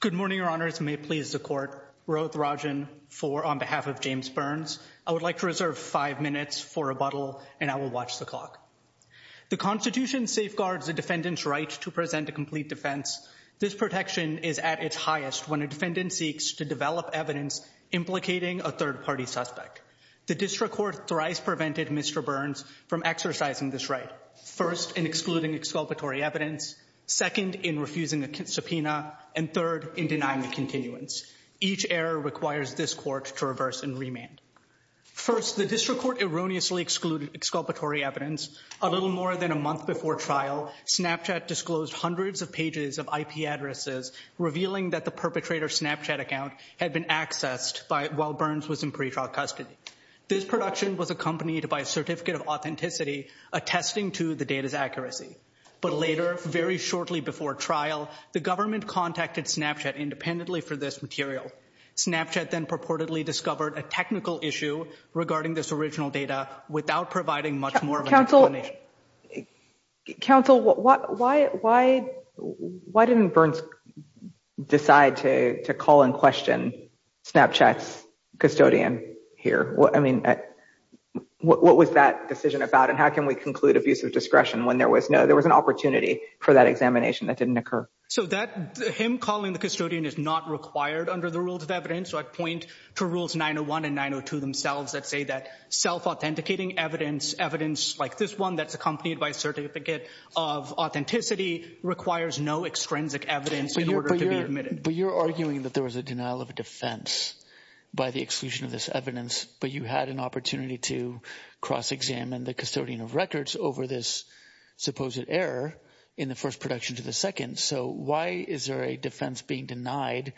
Good morning, your honors. May it please the court. Rohit Rajan IV on behalf of James Burns. I would like to reserve five minutes for rebuttal and I will watch the clock. The constitution safeguards the defendant's right to present a complete defense. This protection is at its highest when a defendant seeks to develop evidence implicating a third-party suspect. The district court thrice prevented Mr. Burns from exercising this right, first in excluding exculpatory evidence, second in refusing a subpoena, and third in denying the continuance. Each error requires this court to reverse and remand. First, the district court erroneously excluded exculpatory evidence. A little more than a month before trial, Snapchat disclosed hundreds of pages of IP addresses revealing that the perpetrator's Snapchat account had been accessed while Burns was in pretrial custody. This production was accompanied by a certificate of authenticity attesting to the data's accuracy. But later, very shortly before trial, the government contacted Snapchat independently for this material. Snapchat then purportedly discovered a technical issue regarding this original data without providing much more. Counsel, why didn't Burns decide to call and question Snapchat's custodian here? I mean, what was that decision about and how can we conclude abusive discretion when there was no, there was an opportunity for that examination that didn't occur? So that, him calling the custodian is not required under the rules of evidence, so I'd point to rules 901 and 902 themselves that say that self-authenticating evidence, evidence like this one that's accompanied by a certificate of authenticity, requires no extrinsic evidence in order to be admitted. But you're arguing that there was a denial of defense by the exclusion of this evidence, but you had an opportunity to cross-examine the custodian of records over this supposed error in the first production to the second. So why is there a defense being denied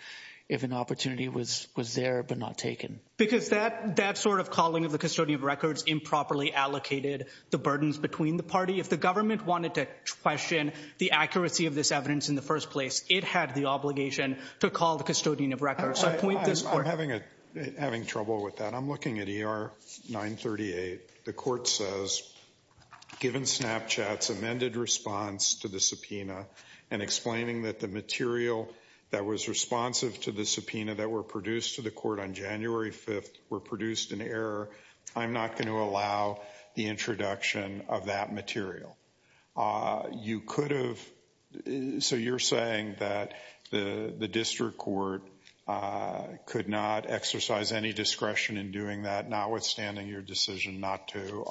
if an opportunity was there but not taken? Because that sort of calling of the custodian of records improperly allocated the burdens between the party. If the government wanted to question the accuracy of this evidence in the first place, it had the obligation to call the custodian of records. I'm having trouble with that. I'm looking at ER 938. The court says, given Snapchat's amended response to the subpoena and explaining that the material that was responsive to the subpoena that were produced to the court on January 5th were produced in error, I'm not going to allow the introduction of that material. So you're saying that the district court could not exercise any discretion in doing that, notwithstanding your decision not to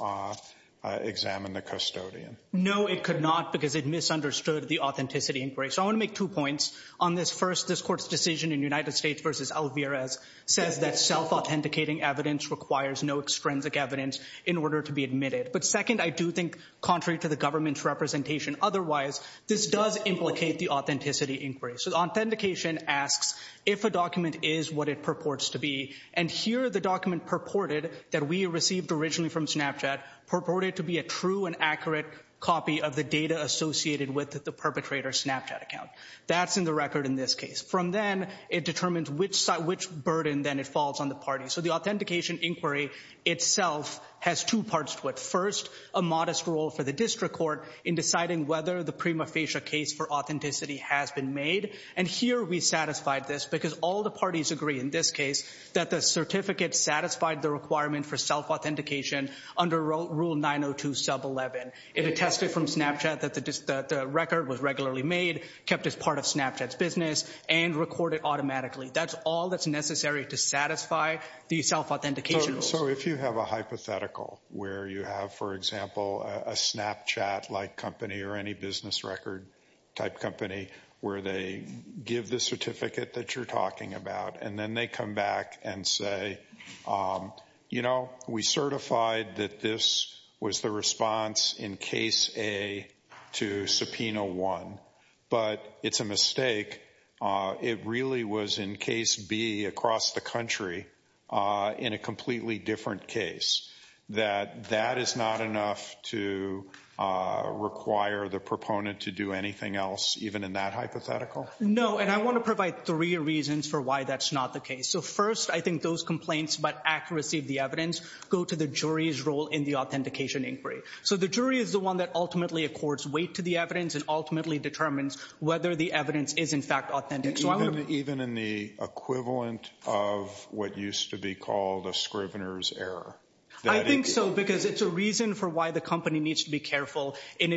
examine the custodian? No, it could not, because it misunderstood the authenticity inquiry. So I want to make two points on this. First, this court's decision in United States v. Alvarez says that self-authenticating evidence requires no extrinsic evidence in order to be admitted. But second, I do think, contrary to the government's representation otherwise, this does implicate the authenticity inquiry. So authentication asks if a document is what it purports to be. And here, the document purported that we received originally from Snapchat purported to be a true and accurate copy of the data associated with the perpetrator's Snapchat account. That's in the record in this case. From then, it determines which burden then it falls on the party. So the authentication inquiry itself has two parts to it. First, a modest role for the district court in deciding whether the prima facie case for authenticity has been made. And here, we satisfied this because all the parties agree in this case that the certificate satisfied the requirement for self-authentication under Rule 902 Sub 11. It attested from Snapchat that the record was regularly made, kept as part of Snapchat's business, and recorded automatically. That's all that's necessary to satisfy the self-authentication rules. So if you have a hypothetical where you have, for example, a Snapchat-like company or any business record-type company where they give the certificate that you're talking about, and then they come back and say, you know, we certified that this was the response in case A to subpoena 1, but it's a mistake, it really was in case B across the country in a completely different case, that that is not enough to require the proponent to do anything else even in that hypothetical? No, and I want to provide three reasons for why that's not the case. So first, I think those complaints about accuracy of the evidence go to the jury's role in the authentication inquiry. So the jury is the one that ultimately accords weight to the evidence and ultimately determines whether the evidence is in fact authentic. Even in the equivalent of what used to be called a scrivener's error? I think so, because it's a reason for why the company needs to be careful in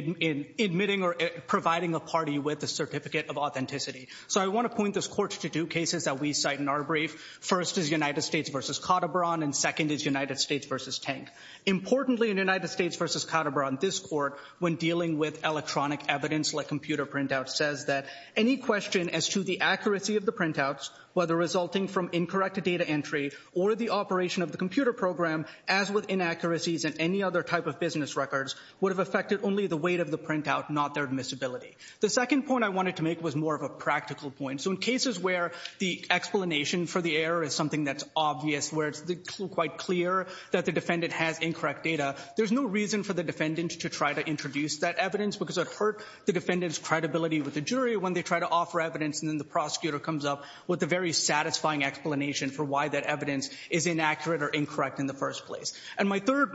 admitting or providing a party with a certificate of authenticity. So I want to point this court to two cases that we cite in our brief. First is United States versus Caterpillar, and second is United States versus Tank. Importantly in United States versus Caterpillar, this court, when dealing with electronic evidence like computer printouts, says that any question as to the accuracy of the printouts, whether resulting from incorrect data entry or the operation of the computer program, as with inaccuracies in any other type of business records, would have affected only the weight of the printout, not their admissibility. The second point I wanted to make was more of a practical point. So in cases where the explanation for the evidence is obvious, where it's quite clear that the defendant has incorrect data, there's no reason for the defendant to try to introduce that evidence because it hurt the defendant's credibility with the jury when they try to offer evidence and then the prosecutor comes up with a very satisfying explanation for why that evidence is inaccurate or incorrect in the first place. And my third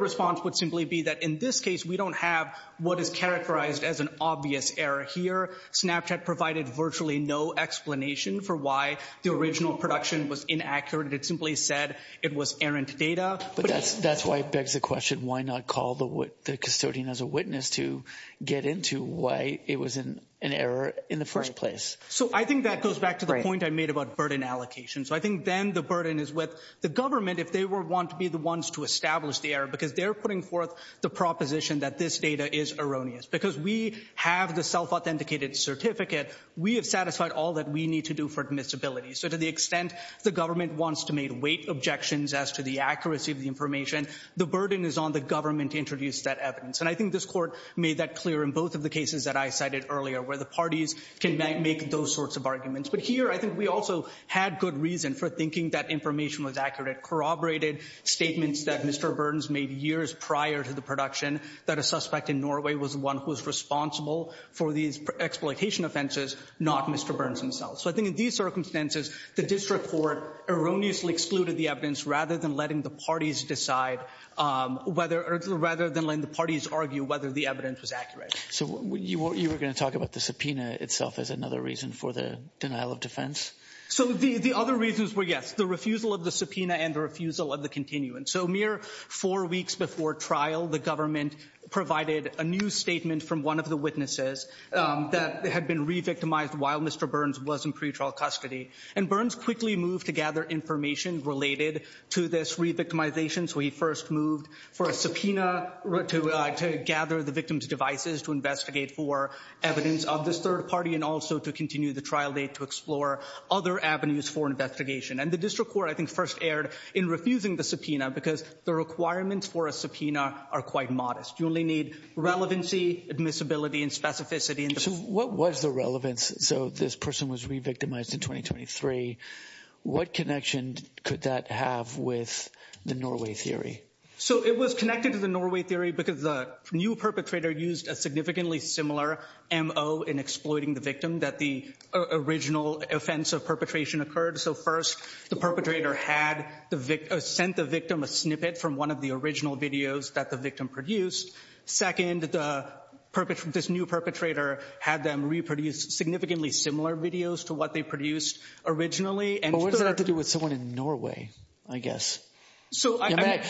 response would simply be that in this case we don't have what is characterized as an obvious error here. Snapchat provided virtually no explanation for why the original production was inaccurate. It simply said it was errant data. But that's why it begs the question, why not call the custodian as a witness to get into why it was an error in the first place? So I think that goes back to the point I made about burden allocation. So I think then the burden is with the government if they were want to be the ones to establish the error because they're putting forth the proposition that this data is erroneous. Because we have the self-authenticated certificate, we have satisfied all that we need to do for admissibility. So to the extent the government wants to make weight objections as to the accuracy of the information, the burden is on the government to introduce that evidence. And I think this court made that clear in both of the cases that I cited earlier where the parties can make those sorts of arguments. But here I think we also had good reason for thinking that information was accurate. Corroborated statements that Mr. Burns made years prior to the production that a suspect in Norway was the one who was responsible for these exploitation offenses, not Mr. Burns himself. So I think in these circumstances, the district court erroneously excluded the evidence rather than letting the parties decide, rather than letting the parties argue whether the evidence was accurate. So you were going to talk about the subpoena itself as another reason for the denial of defense? So the other reasons were, yes, refusal of the subpoena and refusal of the continuance. So mere four weeks before trial, the government provided a new statement from one of the witnesses that had been re-victimized while Mr. Burns was in pretrial custody. And Burns quickly moved to gather information related to this re-victimization. So he first moved for a subpoena to gather the victim's devices to investigate for evidence of this third party and also to continue the trial date to explore other avenues for investigation. And the district court, I think, first erred in refusing the subpoena because the requirements for a subpoena are quite modest. You only need relevancy, admissibility, and specificity. So what was the relevance? So this person was re-victimized in 2023. What connection could that have with the Norway theory? So it was connected to the Norway theory because the new perpetrator used a significantly similar MO in exploiting the victim that the original offense of perpetration occurred. So first, the perpetrator had sent the victim a snippet from one of the original videos that the victim produced. Second, this new perpetrator had them reproduce significantly similar videos to what they produced originally. But what does that have to do with someone in Norway, I guess? We're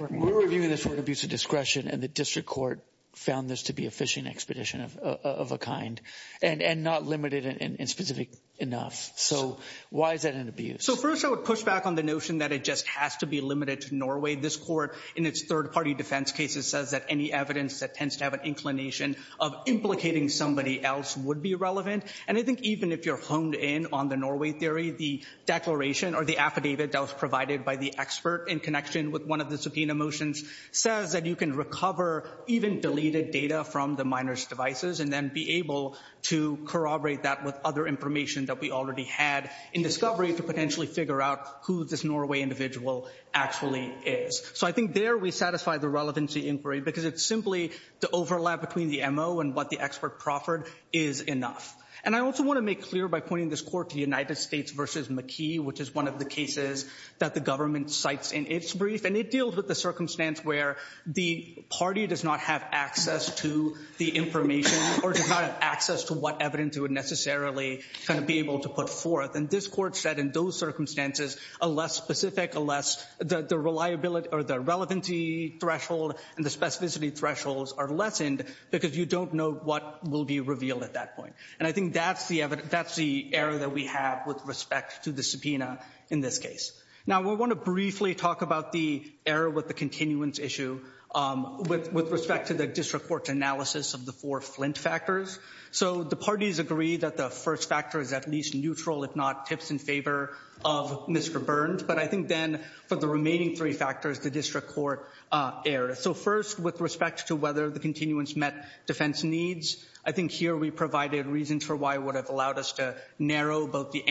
reviewing this for abuse of discretion and the district court found this to be a fishing expedition of a kind and not limited and specific enough. So why is that an abuse? So first, I would push back on the notion that it just has to be limited to Norway. This court in its third party defense cases says that any evidence that tends to have an inclination of implicating somebody else would be relevant. And I think even if you're honed in on the Norway theory, the declaration or the affidavit that was provided by the expert in connection with one of the subpoena motions says that you can recover even deleted data from the minors devices and then be able to corroborate that with other information that we already had in discovery to potentially figure out who this Norway individual actually is. So I think there we satisfy the relevancy inquiry because it's simply the overlap between the MO and what the expert proffered is enough. And I also want to make clear by pointing this court to the United States versus McKee, which is one of the cases that the government cites in its brief and it deals with the circumstance where the party does not have access to the information or does not have access to what evidence it would necessarily be able to put forth. And this court said in those circumstances, a less specific, a less the reliability or the relevancy threshold and the specificity thresholds are lessened because you don't know what will be revealed at that point. And I think that's the error that we have with respect to the subpoena in this case. Now, we want to briefly talk about the error with the continuance issue with respect to the district court analysis of the four Flint factors. So the parties agree that the first factor is at least neutral, if not tips in favor of Mr. Burns. But I think then for the remaining three factors, the district court error. So first, with respect to whether the continuance met defense needs, I think here we provided reasons for why would have allowed us to narrow both the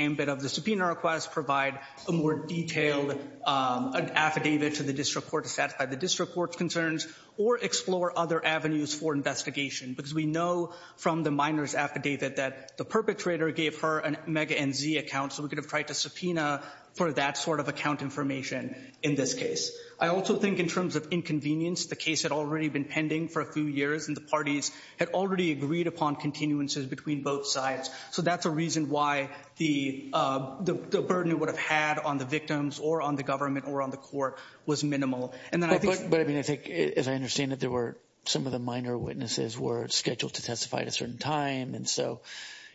subpoena request, provide a more detailed affidavit to the district court to satisfy the district court's concerns, or explore other avenues for investigation. Because we know from the minor's affidavit that the perpetrator gave her an Omega NZ account, so we could have tried to subpoena for that sort of account information in this case. I also think in terms of inconvenience, the case had already been pending for a few years, and the parties had already agreed upon continuances between both sides. So that's reason why the burden it would have had on the victims or on the government or on the court was minimal. But I mean, I think, as I understand it, there were some of the minor witnesses were scheduled to testify at a certain time. And so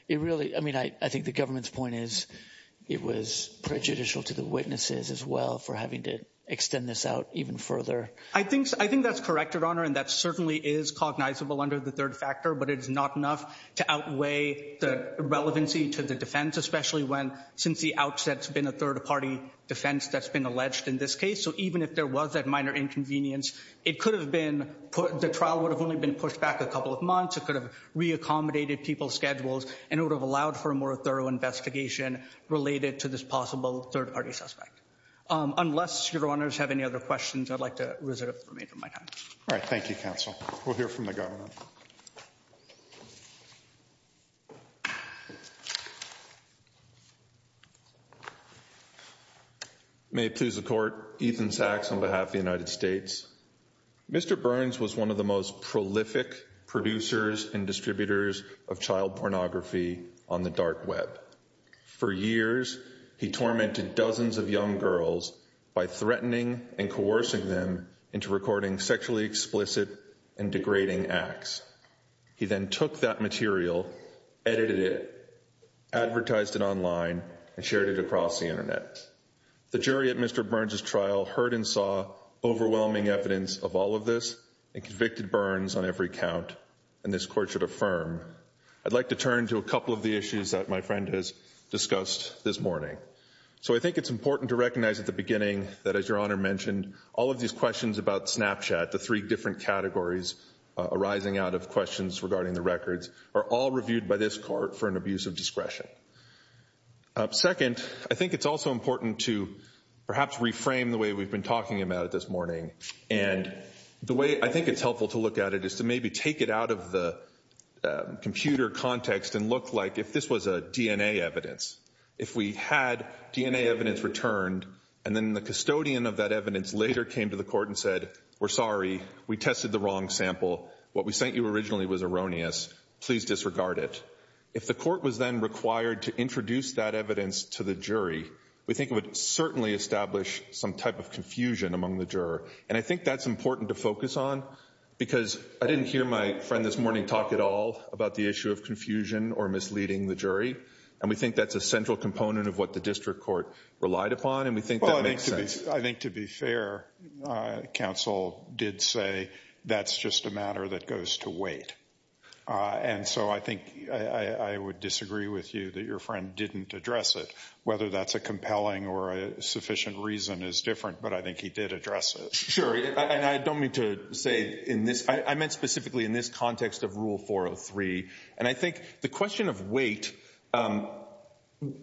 it really, I mean, I think the government's point is it was prejudicial to the witnesses as well for having to extend this out even further. I think that's correct, Your Honor, and that certainly is cognizable under the third factor, but it is not enough to outweigh the relevancy to the defense, especially when, since the outset's been a third-party defense that's been alleged in this case. So even if there was that minor inconvenience, it could have been put, the trial would have only been pushed back a couple of months, it could have re-accommodated people's schedules, and it would have allowed for a more thorough investigation related to this possible third-party suspect. Unless Your Honors have any other questions, I'd like to reserve the remainder of my time. All right, thank you, Counsel. We'll hear from the government. May it please the Court, Ethan Sachs on behalf of the United States. Mr. Burns was one of the most prolific producers and distributors of child pornography on the dark web. For years, he tormented dozens of young girls by threatening and coercing them into recording sexually explicit and degrading acts. He then took that material, edited it, advertised it online, and shared it across the internet. The jury at Mr. Burns' trial heard and saw overwhelming evidence of all of this and convicted Burns on every count, and this Court should affirm. I'd like to turn to a couple of the issues that my friend has discussed this morning. So I think it's important to recognize at the beginning that, as Your Honor mentioned, all of these questions about Snapchat, the three different categories arising out of questions regarding the records, are all reviewed by this Court for an abuse of discretion. Second, I think it's also important to perhaps reframe the way we've been talking about it this morning, and the way I think it's helpful to look at it is to maybe take it out of the computer context and look like if this was a DNA evidence. If we had DNA evidence returned and then the custodian of that evidence later came to the court and said, we're sorry, we tested the wrong sample, what we sent you originally was erroneous, please disregard it. If the court was then required to introduce that evidence to the jury, we think it would certainly establish some type of confusion among the juror, and I think that's important to focus on because I didn't hear my friend this morning talk at all about the issue of confusion or misleading the jury, and we think that's a central component of what the district court relied upon, and we think that makes sense. Well, I think to be fair, counsel did say that's just a matter that goes to weight, and so I think I would disagree with you that your friend didn't address it, whether that's a compelling or a sufficient reason is different, but I think he did address it. Sure, and I don't mean to say in this, I meant specifically in this context of Rule 403, and I think the question of weight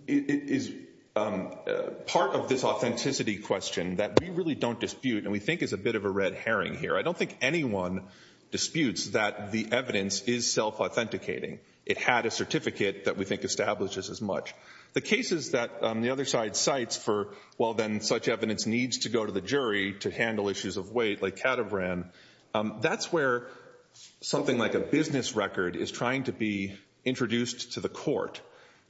is part of this authenticity question that we really don't dispute, and we think is a bit of a red herring here. I don't think anyone disputes that the evidence is self-authenticating. It had a certificate that we think establishes as much. The cases that the other side cites for, well, then such evidence needs to go to the jury to handle issues of weight, like Caterbran. That's where something like a business record is trying to be introduced to the court,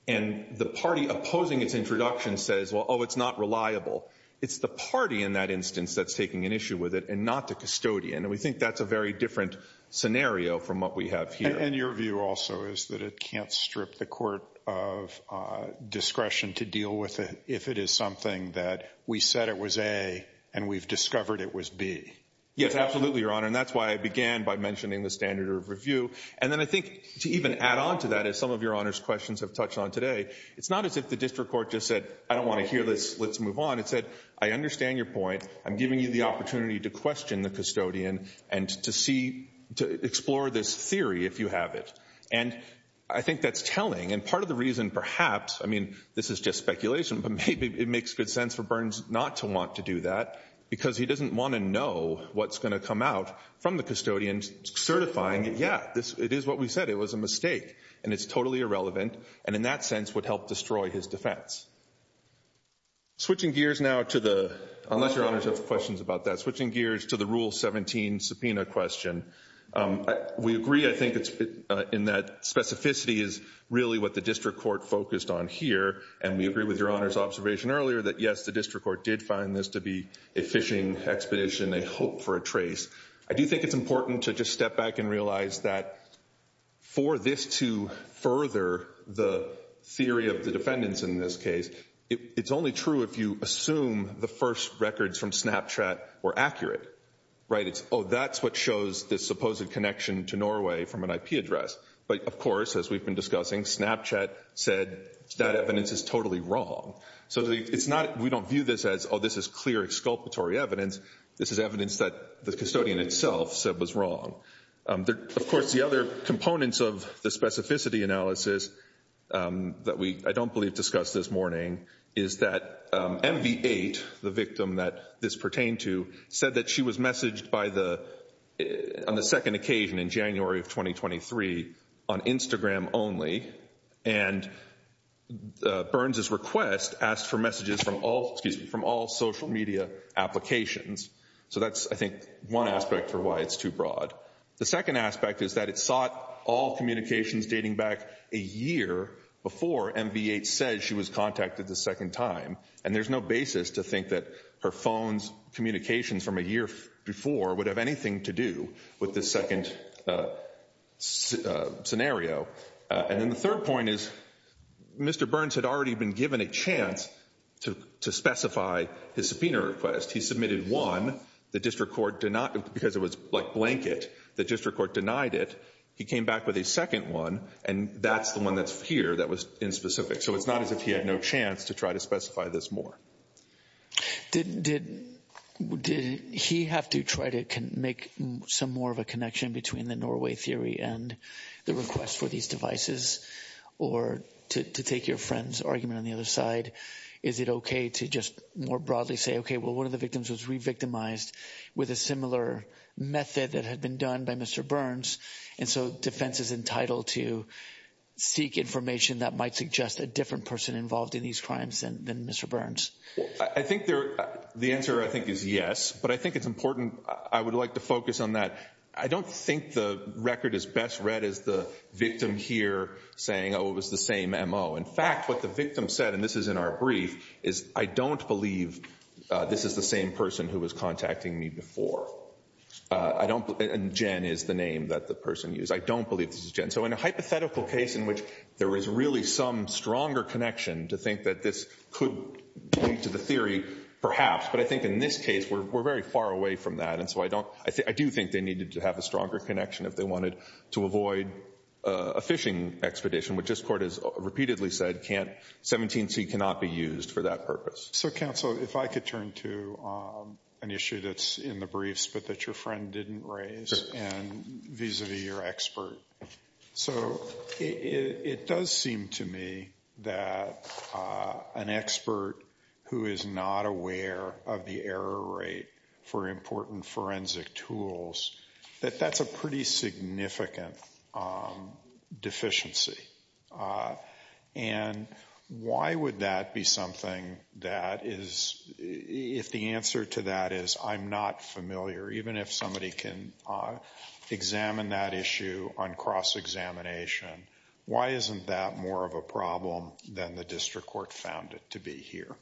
and the party opposing its introduction says, well, oh, it's not reliable. It's the party in that instance that's taking an issue with it and not the custodian, and we think that's a very different scenario from what we have here. And your view also is that it can't strip the court of discretion to deal with it if it is something that we said it was A, and we've discovered it was B. Yes, absolutely, Your Honor, and that's why I began by mentioning the standard of review, and then I think to even add on to that, as some of Your Honor's questions have touched on today, it's not as if the district court just said, I don't want to hear this. Let's move on. It said, I understand your point. I'm giving you the opportunity to question the custodian and to explore this theory if you have it, and I think that's telling, and part of the reason perhaps, I mean, this is just speculation, but maybe it makes good sense for Burns not to want to do that because he doesn't want to know what's going to come out from the custodian certifying, yeah, it is what we said. It was a mistake, and it's totally irrelevant, and in that sense would help destroy his defense. Switching gears now to the, unless Your Honor has questions about that, switching gears to the Rule 17 subpoena question, we agree, I think, in that specificity is really what the district court focused on here, and we agree with Your Honor's observation earlier that, yes, the district court did find this to be a phishing expedition, a hope for a trace. I do think it's important to just step back and realize that for this to further the theory of the defendants in this case, it's only true if you assume the first records from Snapchat were accurate, right? It's, oh, that's what shows this supposed connection to Norway from an IP address, but of course, as we've been discussing, Snapchat said that evidence is totally wrong. So it's not, we don't view this as, oh, this is clear exculpatory evidence. This is evidence that the custodian itself said was wrong. Of course, the other components of the specificity analysis that we, I don't believe, discussed this morning is that MV8, the victim that this pertained to, said that she was messaged by the, on the second occasion in January of 2023 on Instagram only, and Burns's request asked for messages from all, excuse me, from all social media applications. So that's, I think, one aspect for why it's too broad. The second aspect is that it sought all communications dating back a year before MV8 says she was contacted the second time, and there's no basis to think that her phone's communications from a year before would have anything to do with this second scenario. And then the third point is Mr. Burns had already been given a chance to specify his subpoena request. He submitted one, the district court did not, because it was like blanket, the district court denied it. He came back with a second one, and that's the one that's here that was in specific. So it's not as if he had no chance to try to specify this more. Did he have to try to make some more of a connection between the Norway theory and the request for these devices, or to take your friend's argument on the other side, is it okay to just more broadly say, okay, well, one of the victims was re-victimized with a similar method that had been done by Mr. Burns, and so defense is entitled to seek information that might suggest a different person involved in these crimes than Mr. Burns? I think the answer, I think, is yes, but I think it's important, I would like to focus on that. I don't think the record is best read as the victim here saying, oh, it was the same MO. In fact, what the victim said, and this is in our brief, is I don't believe this is the same person who was contacting me before. I don't, and Jen is the name that the person used. I don't believe this is Jen. So in a hypothetical case in which there is really some stronger connection to think that this could lead to the theory, perhaps, but I think in this case we're very far away from that, and so I don't, I do think they needed to have a stronger connection if they wanted to avoid a phishing expedition, which this court has repeatedly said can't, 17c cannot be used for that purpose. So counsel, if I could turn to an issue that's in the briefs, but that your friend didn't raise, and vis-a-vis your expert. So it does seem to me that an expert who is not aware of the error rate for important forensic tools, that that's a pretty significant deficiency, and why would that be something that is, if the answer to that is I'm not familiar, even if somebody can examine that issue on cross-examination, why isn't that more of a problem than the district court found it to be here?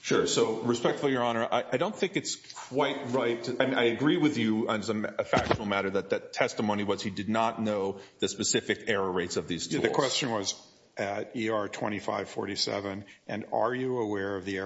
Sure, so respectfully, your honor, I don't think it's quite right, and I agree with you on a factual matter, that that testimony was he did not know the specific error rates of these tools. The question was at ER 2547, and are you aware of the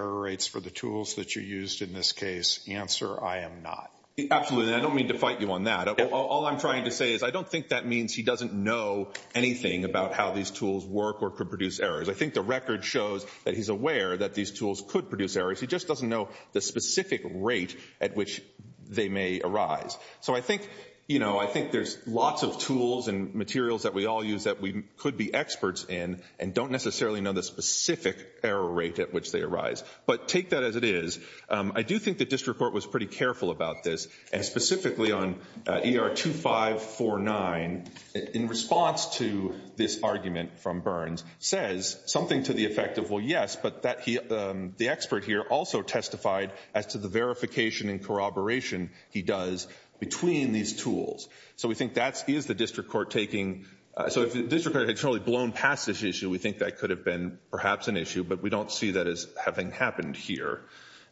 I don't mean to fight you on that. All I'm trying to say is I don't think that means he doesn't know anything about how these tools work or could produce errors. I think the record shows that he's aware that these tools could produce errors. He just doesn't know the specific rate at which they may arise. So I think, you know, I think there's lots of tools and materials that we all use that we could be experts in and don't necessarily know the specific error rate at which they arise, but take that as it is. I do think the district court was pretty careful about this, and specifically on ER 2549, in response to this argument from Burns, says something to the effect of, well, yes, but the expert here also testified as to the verification and corroboration he does between these tools. So we think that is the district court taking, so if the district had totally blown past this issue, we think that could have been perhaps an issue, but we don't see that as having happened here.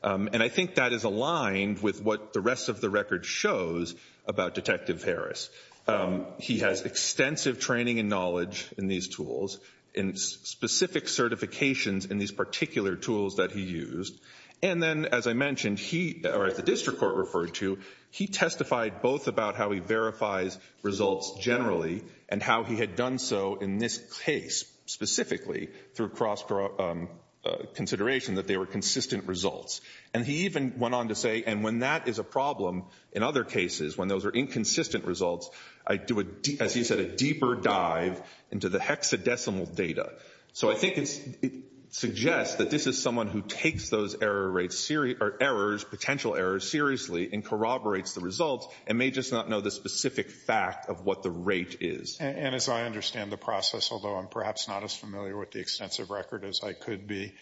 And I think that is aligned with what the rest of the record shows about Detective Harris. He has extensive training and knowledge in these tools and specific certifications in these particular tools that he used. And then, as I mentioned, he, or as the district court referred to, he testified both about how he verifies results generally and how he had done so in this case, specifically through cross-consideration that they were consistent results. And he even went on to say, and when that is a problem in other cases, when those are inconsistent results, I do, as he said, a deeper dive into the hexadecimal data. So I think it suggests that this is someone who takes those error rates, or errors, potential errors, seriously and corroborates the results, and may just not know the specific fact of what the rate is. And as I understand the process, although I'm perhaps not as familiar with the extensive record as I could be,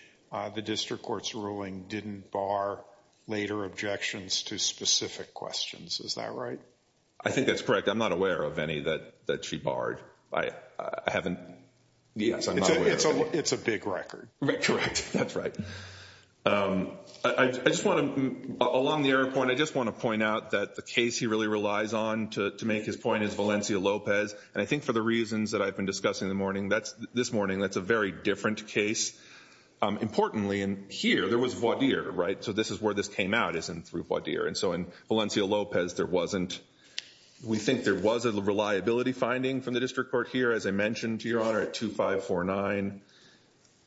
the district court's ruling didn't bar later objections to specific questions. Is that right? I think that's correct. I'm not aware of any that she barred. I haven't, yes, I'm not aware. It's a big record. Correct, that's right. I just want to, along the error point, I just want to point out that the case he really relies on to make his point is Valencia-Lopez. And I think for the reasons that I've been discussing in the morning, that's, this morning, that's a very different case. Importantly, and here, there was voir dire, right? So this is where this came out, is through voir dire. And so in Valencia-Lopez, there wasn't, we think there was a reliability finding from the district court here, as I mentioned to Your Honor, at 2549.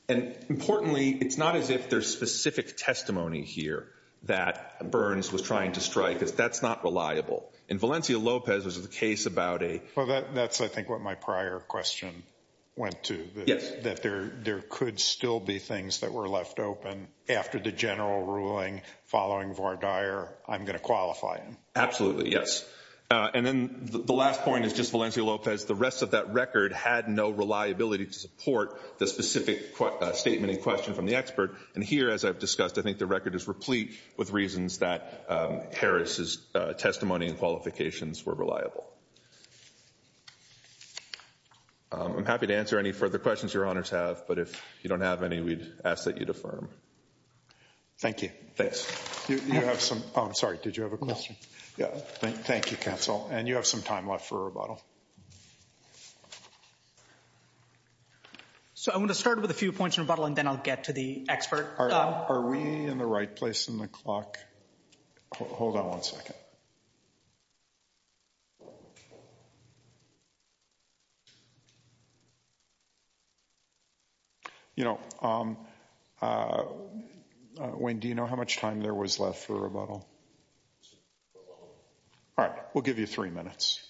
And importantly, it's not as if there's specific testimony here that Burns was trying to strike, because that's not reliable. In Valencia-Lopez, which is a case about a... Well, that's, I think, what my prior question went to, that there could still be things that were left open after the general ruling following voir dire, I'm going to qualify him. Absolutely, yes. And then the last point is just Valencia-Lopez. The rest of that record had no reliability to support the specific statement in question from the expert. And here, as I've discussed, I think the record is replete with reasons that Harris's testimony and qualifications were reliable. I'm happy to answer any further questions Your Honors have, but if you don't have any, we'd ask that you'd affirm. Thank you. Thanks. You have some, I'm sorry, did you have a question? Yeah, thank you, counsel. And you have some time left for rebuttal. So I'm going to start with a few points in rebuttal, and then I'll get to the expert. Are we in the right place in the clock? Hold on one second. You know, Wayne, do you know how much time there was left for rebuttal? All right, we'll give you three minutes.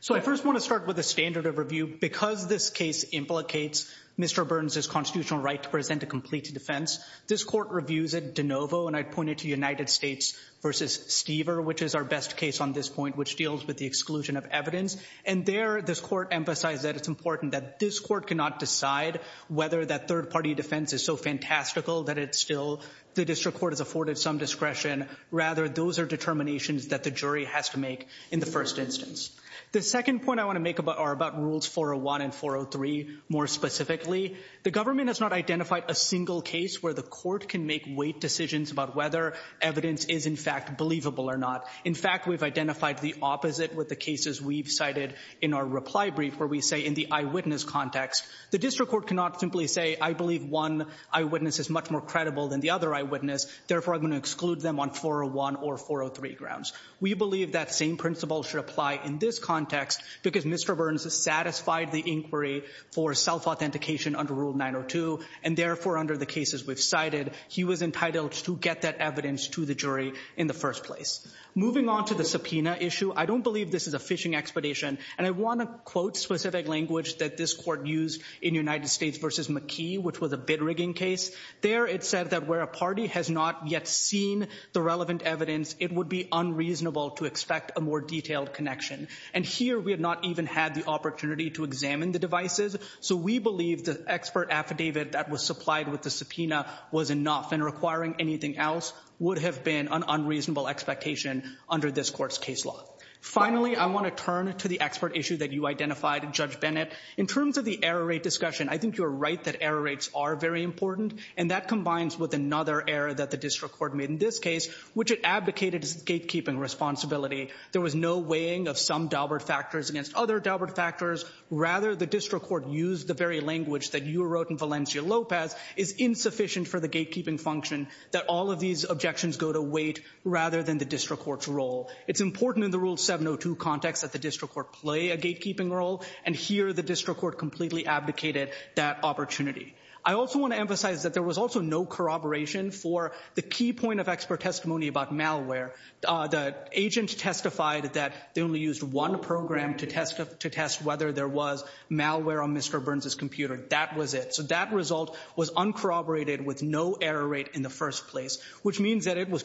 So I first want to start with a standard of review. Because this case implicates Mr. Burns' constitutional right to present a complete defense, this court reviews it de novo, and I'd point it to United States versus Stever, which is our best case on this point, which deals with the exclusion of evidence. And there, this court emphasized that it's important that this court cannot decide whether that third-party defense is so fantastical that it's still, the district court has afforded some discretion. Rather, those are determinations that the jury has to make in the first instance. The second point I want to make are about rules 401 and 403 more specifically. The government has not identified a single case where the court can make weight decisions about whether evidence is in fact believable or not. In fact, we've identified the opposite with the cases we've cited in our reply brief, where we say in the eyewitness context, the district court cannot simply say, I believe one eyewitness is much more credible than the other eyewitness. Therefore, I'm going to exclude them on 401 or 403 grounds. We believe that same principle should apply in this context, because Mr. Burns has satisfied the inquiry for self-authentication under Rule 902, and therefore, under the cases we've cited, he was entitled to get that evidence to the jury in the first place. Moving on to the subpoena issue, I don't believe this is a fishing expedition, and I want to quote specific language that this court used in United States versus McKee, which was a bid rigging case. There, it said that where a party has not yet seen the relevant evidence, it would be unreasonable to expect a more detailed connection. And here, we have not even had the opportunity to examine the devices, so we believe the expert affidavit that was supplied with the subpoena was enough, and requiring anything else would have been an unreasonable expectation under this court's case law. Finally, I want to turn to the expert issue that you identified, Judge Bennett. In terms of the error rate discussion, I think you're right that error rates are very important, and that combines with another error that the district court made in this case, which it advocated as gatekeeping responsibility. There was no weighing of some Daubert factors against other Daubert factors. Rather, the district court used the very language that you wrote in Valencia-Lopez is insufficient for the gatekeeping function, that all of these objections go to weight rather than the district court's role. It's important in the Rule 702 context that the district court play a gatekeeping role, and here, the district court completely abdicated that opportunity. I also want to emphasize that there was also no corroboration for the key point of expert testimony about malware. The agent testified that they only used one program to test whether there was malware on Mr. Burns's computer. That was it. So that result was uncorroborated with no error rate in the first place, which means that it was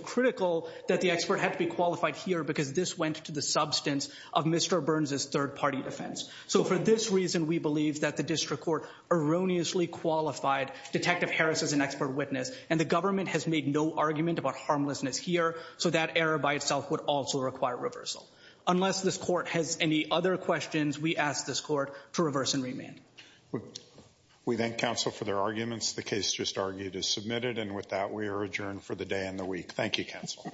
that the expert had to be qualified here because this went to the substance of Mr. Burns's third party defense. So for this reason, we believe that the district court erroneously qualified Detective Harris as an expert witness, and the government has made no argument about harmlessness here, so that error by itself would also require reversal. Unless this court has any other questions, we ask this court to reverse and remand. We thank counsel for their arguments. The case just argued is submitted, and with that, we are adjourned for the day and the week. Thank you, counsel.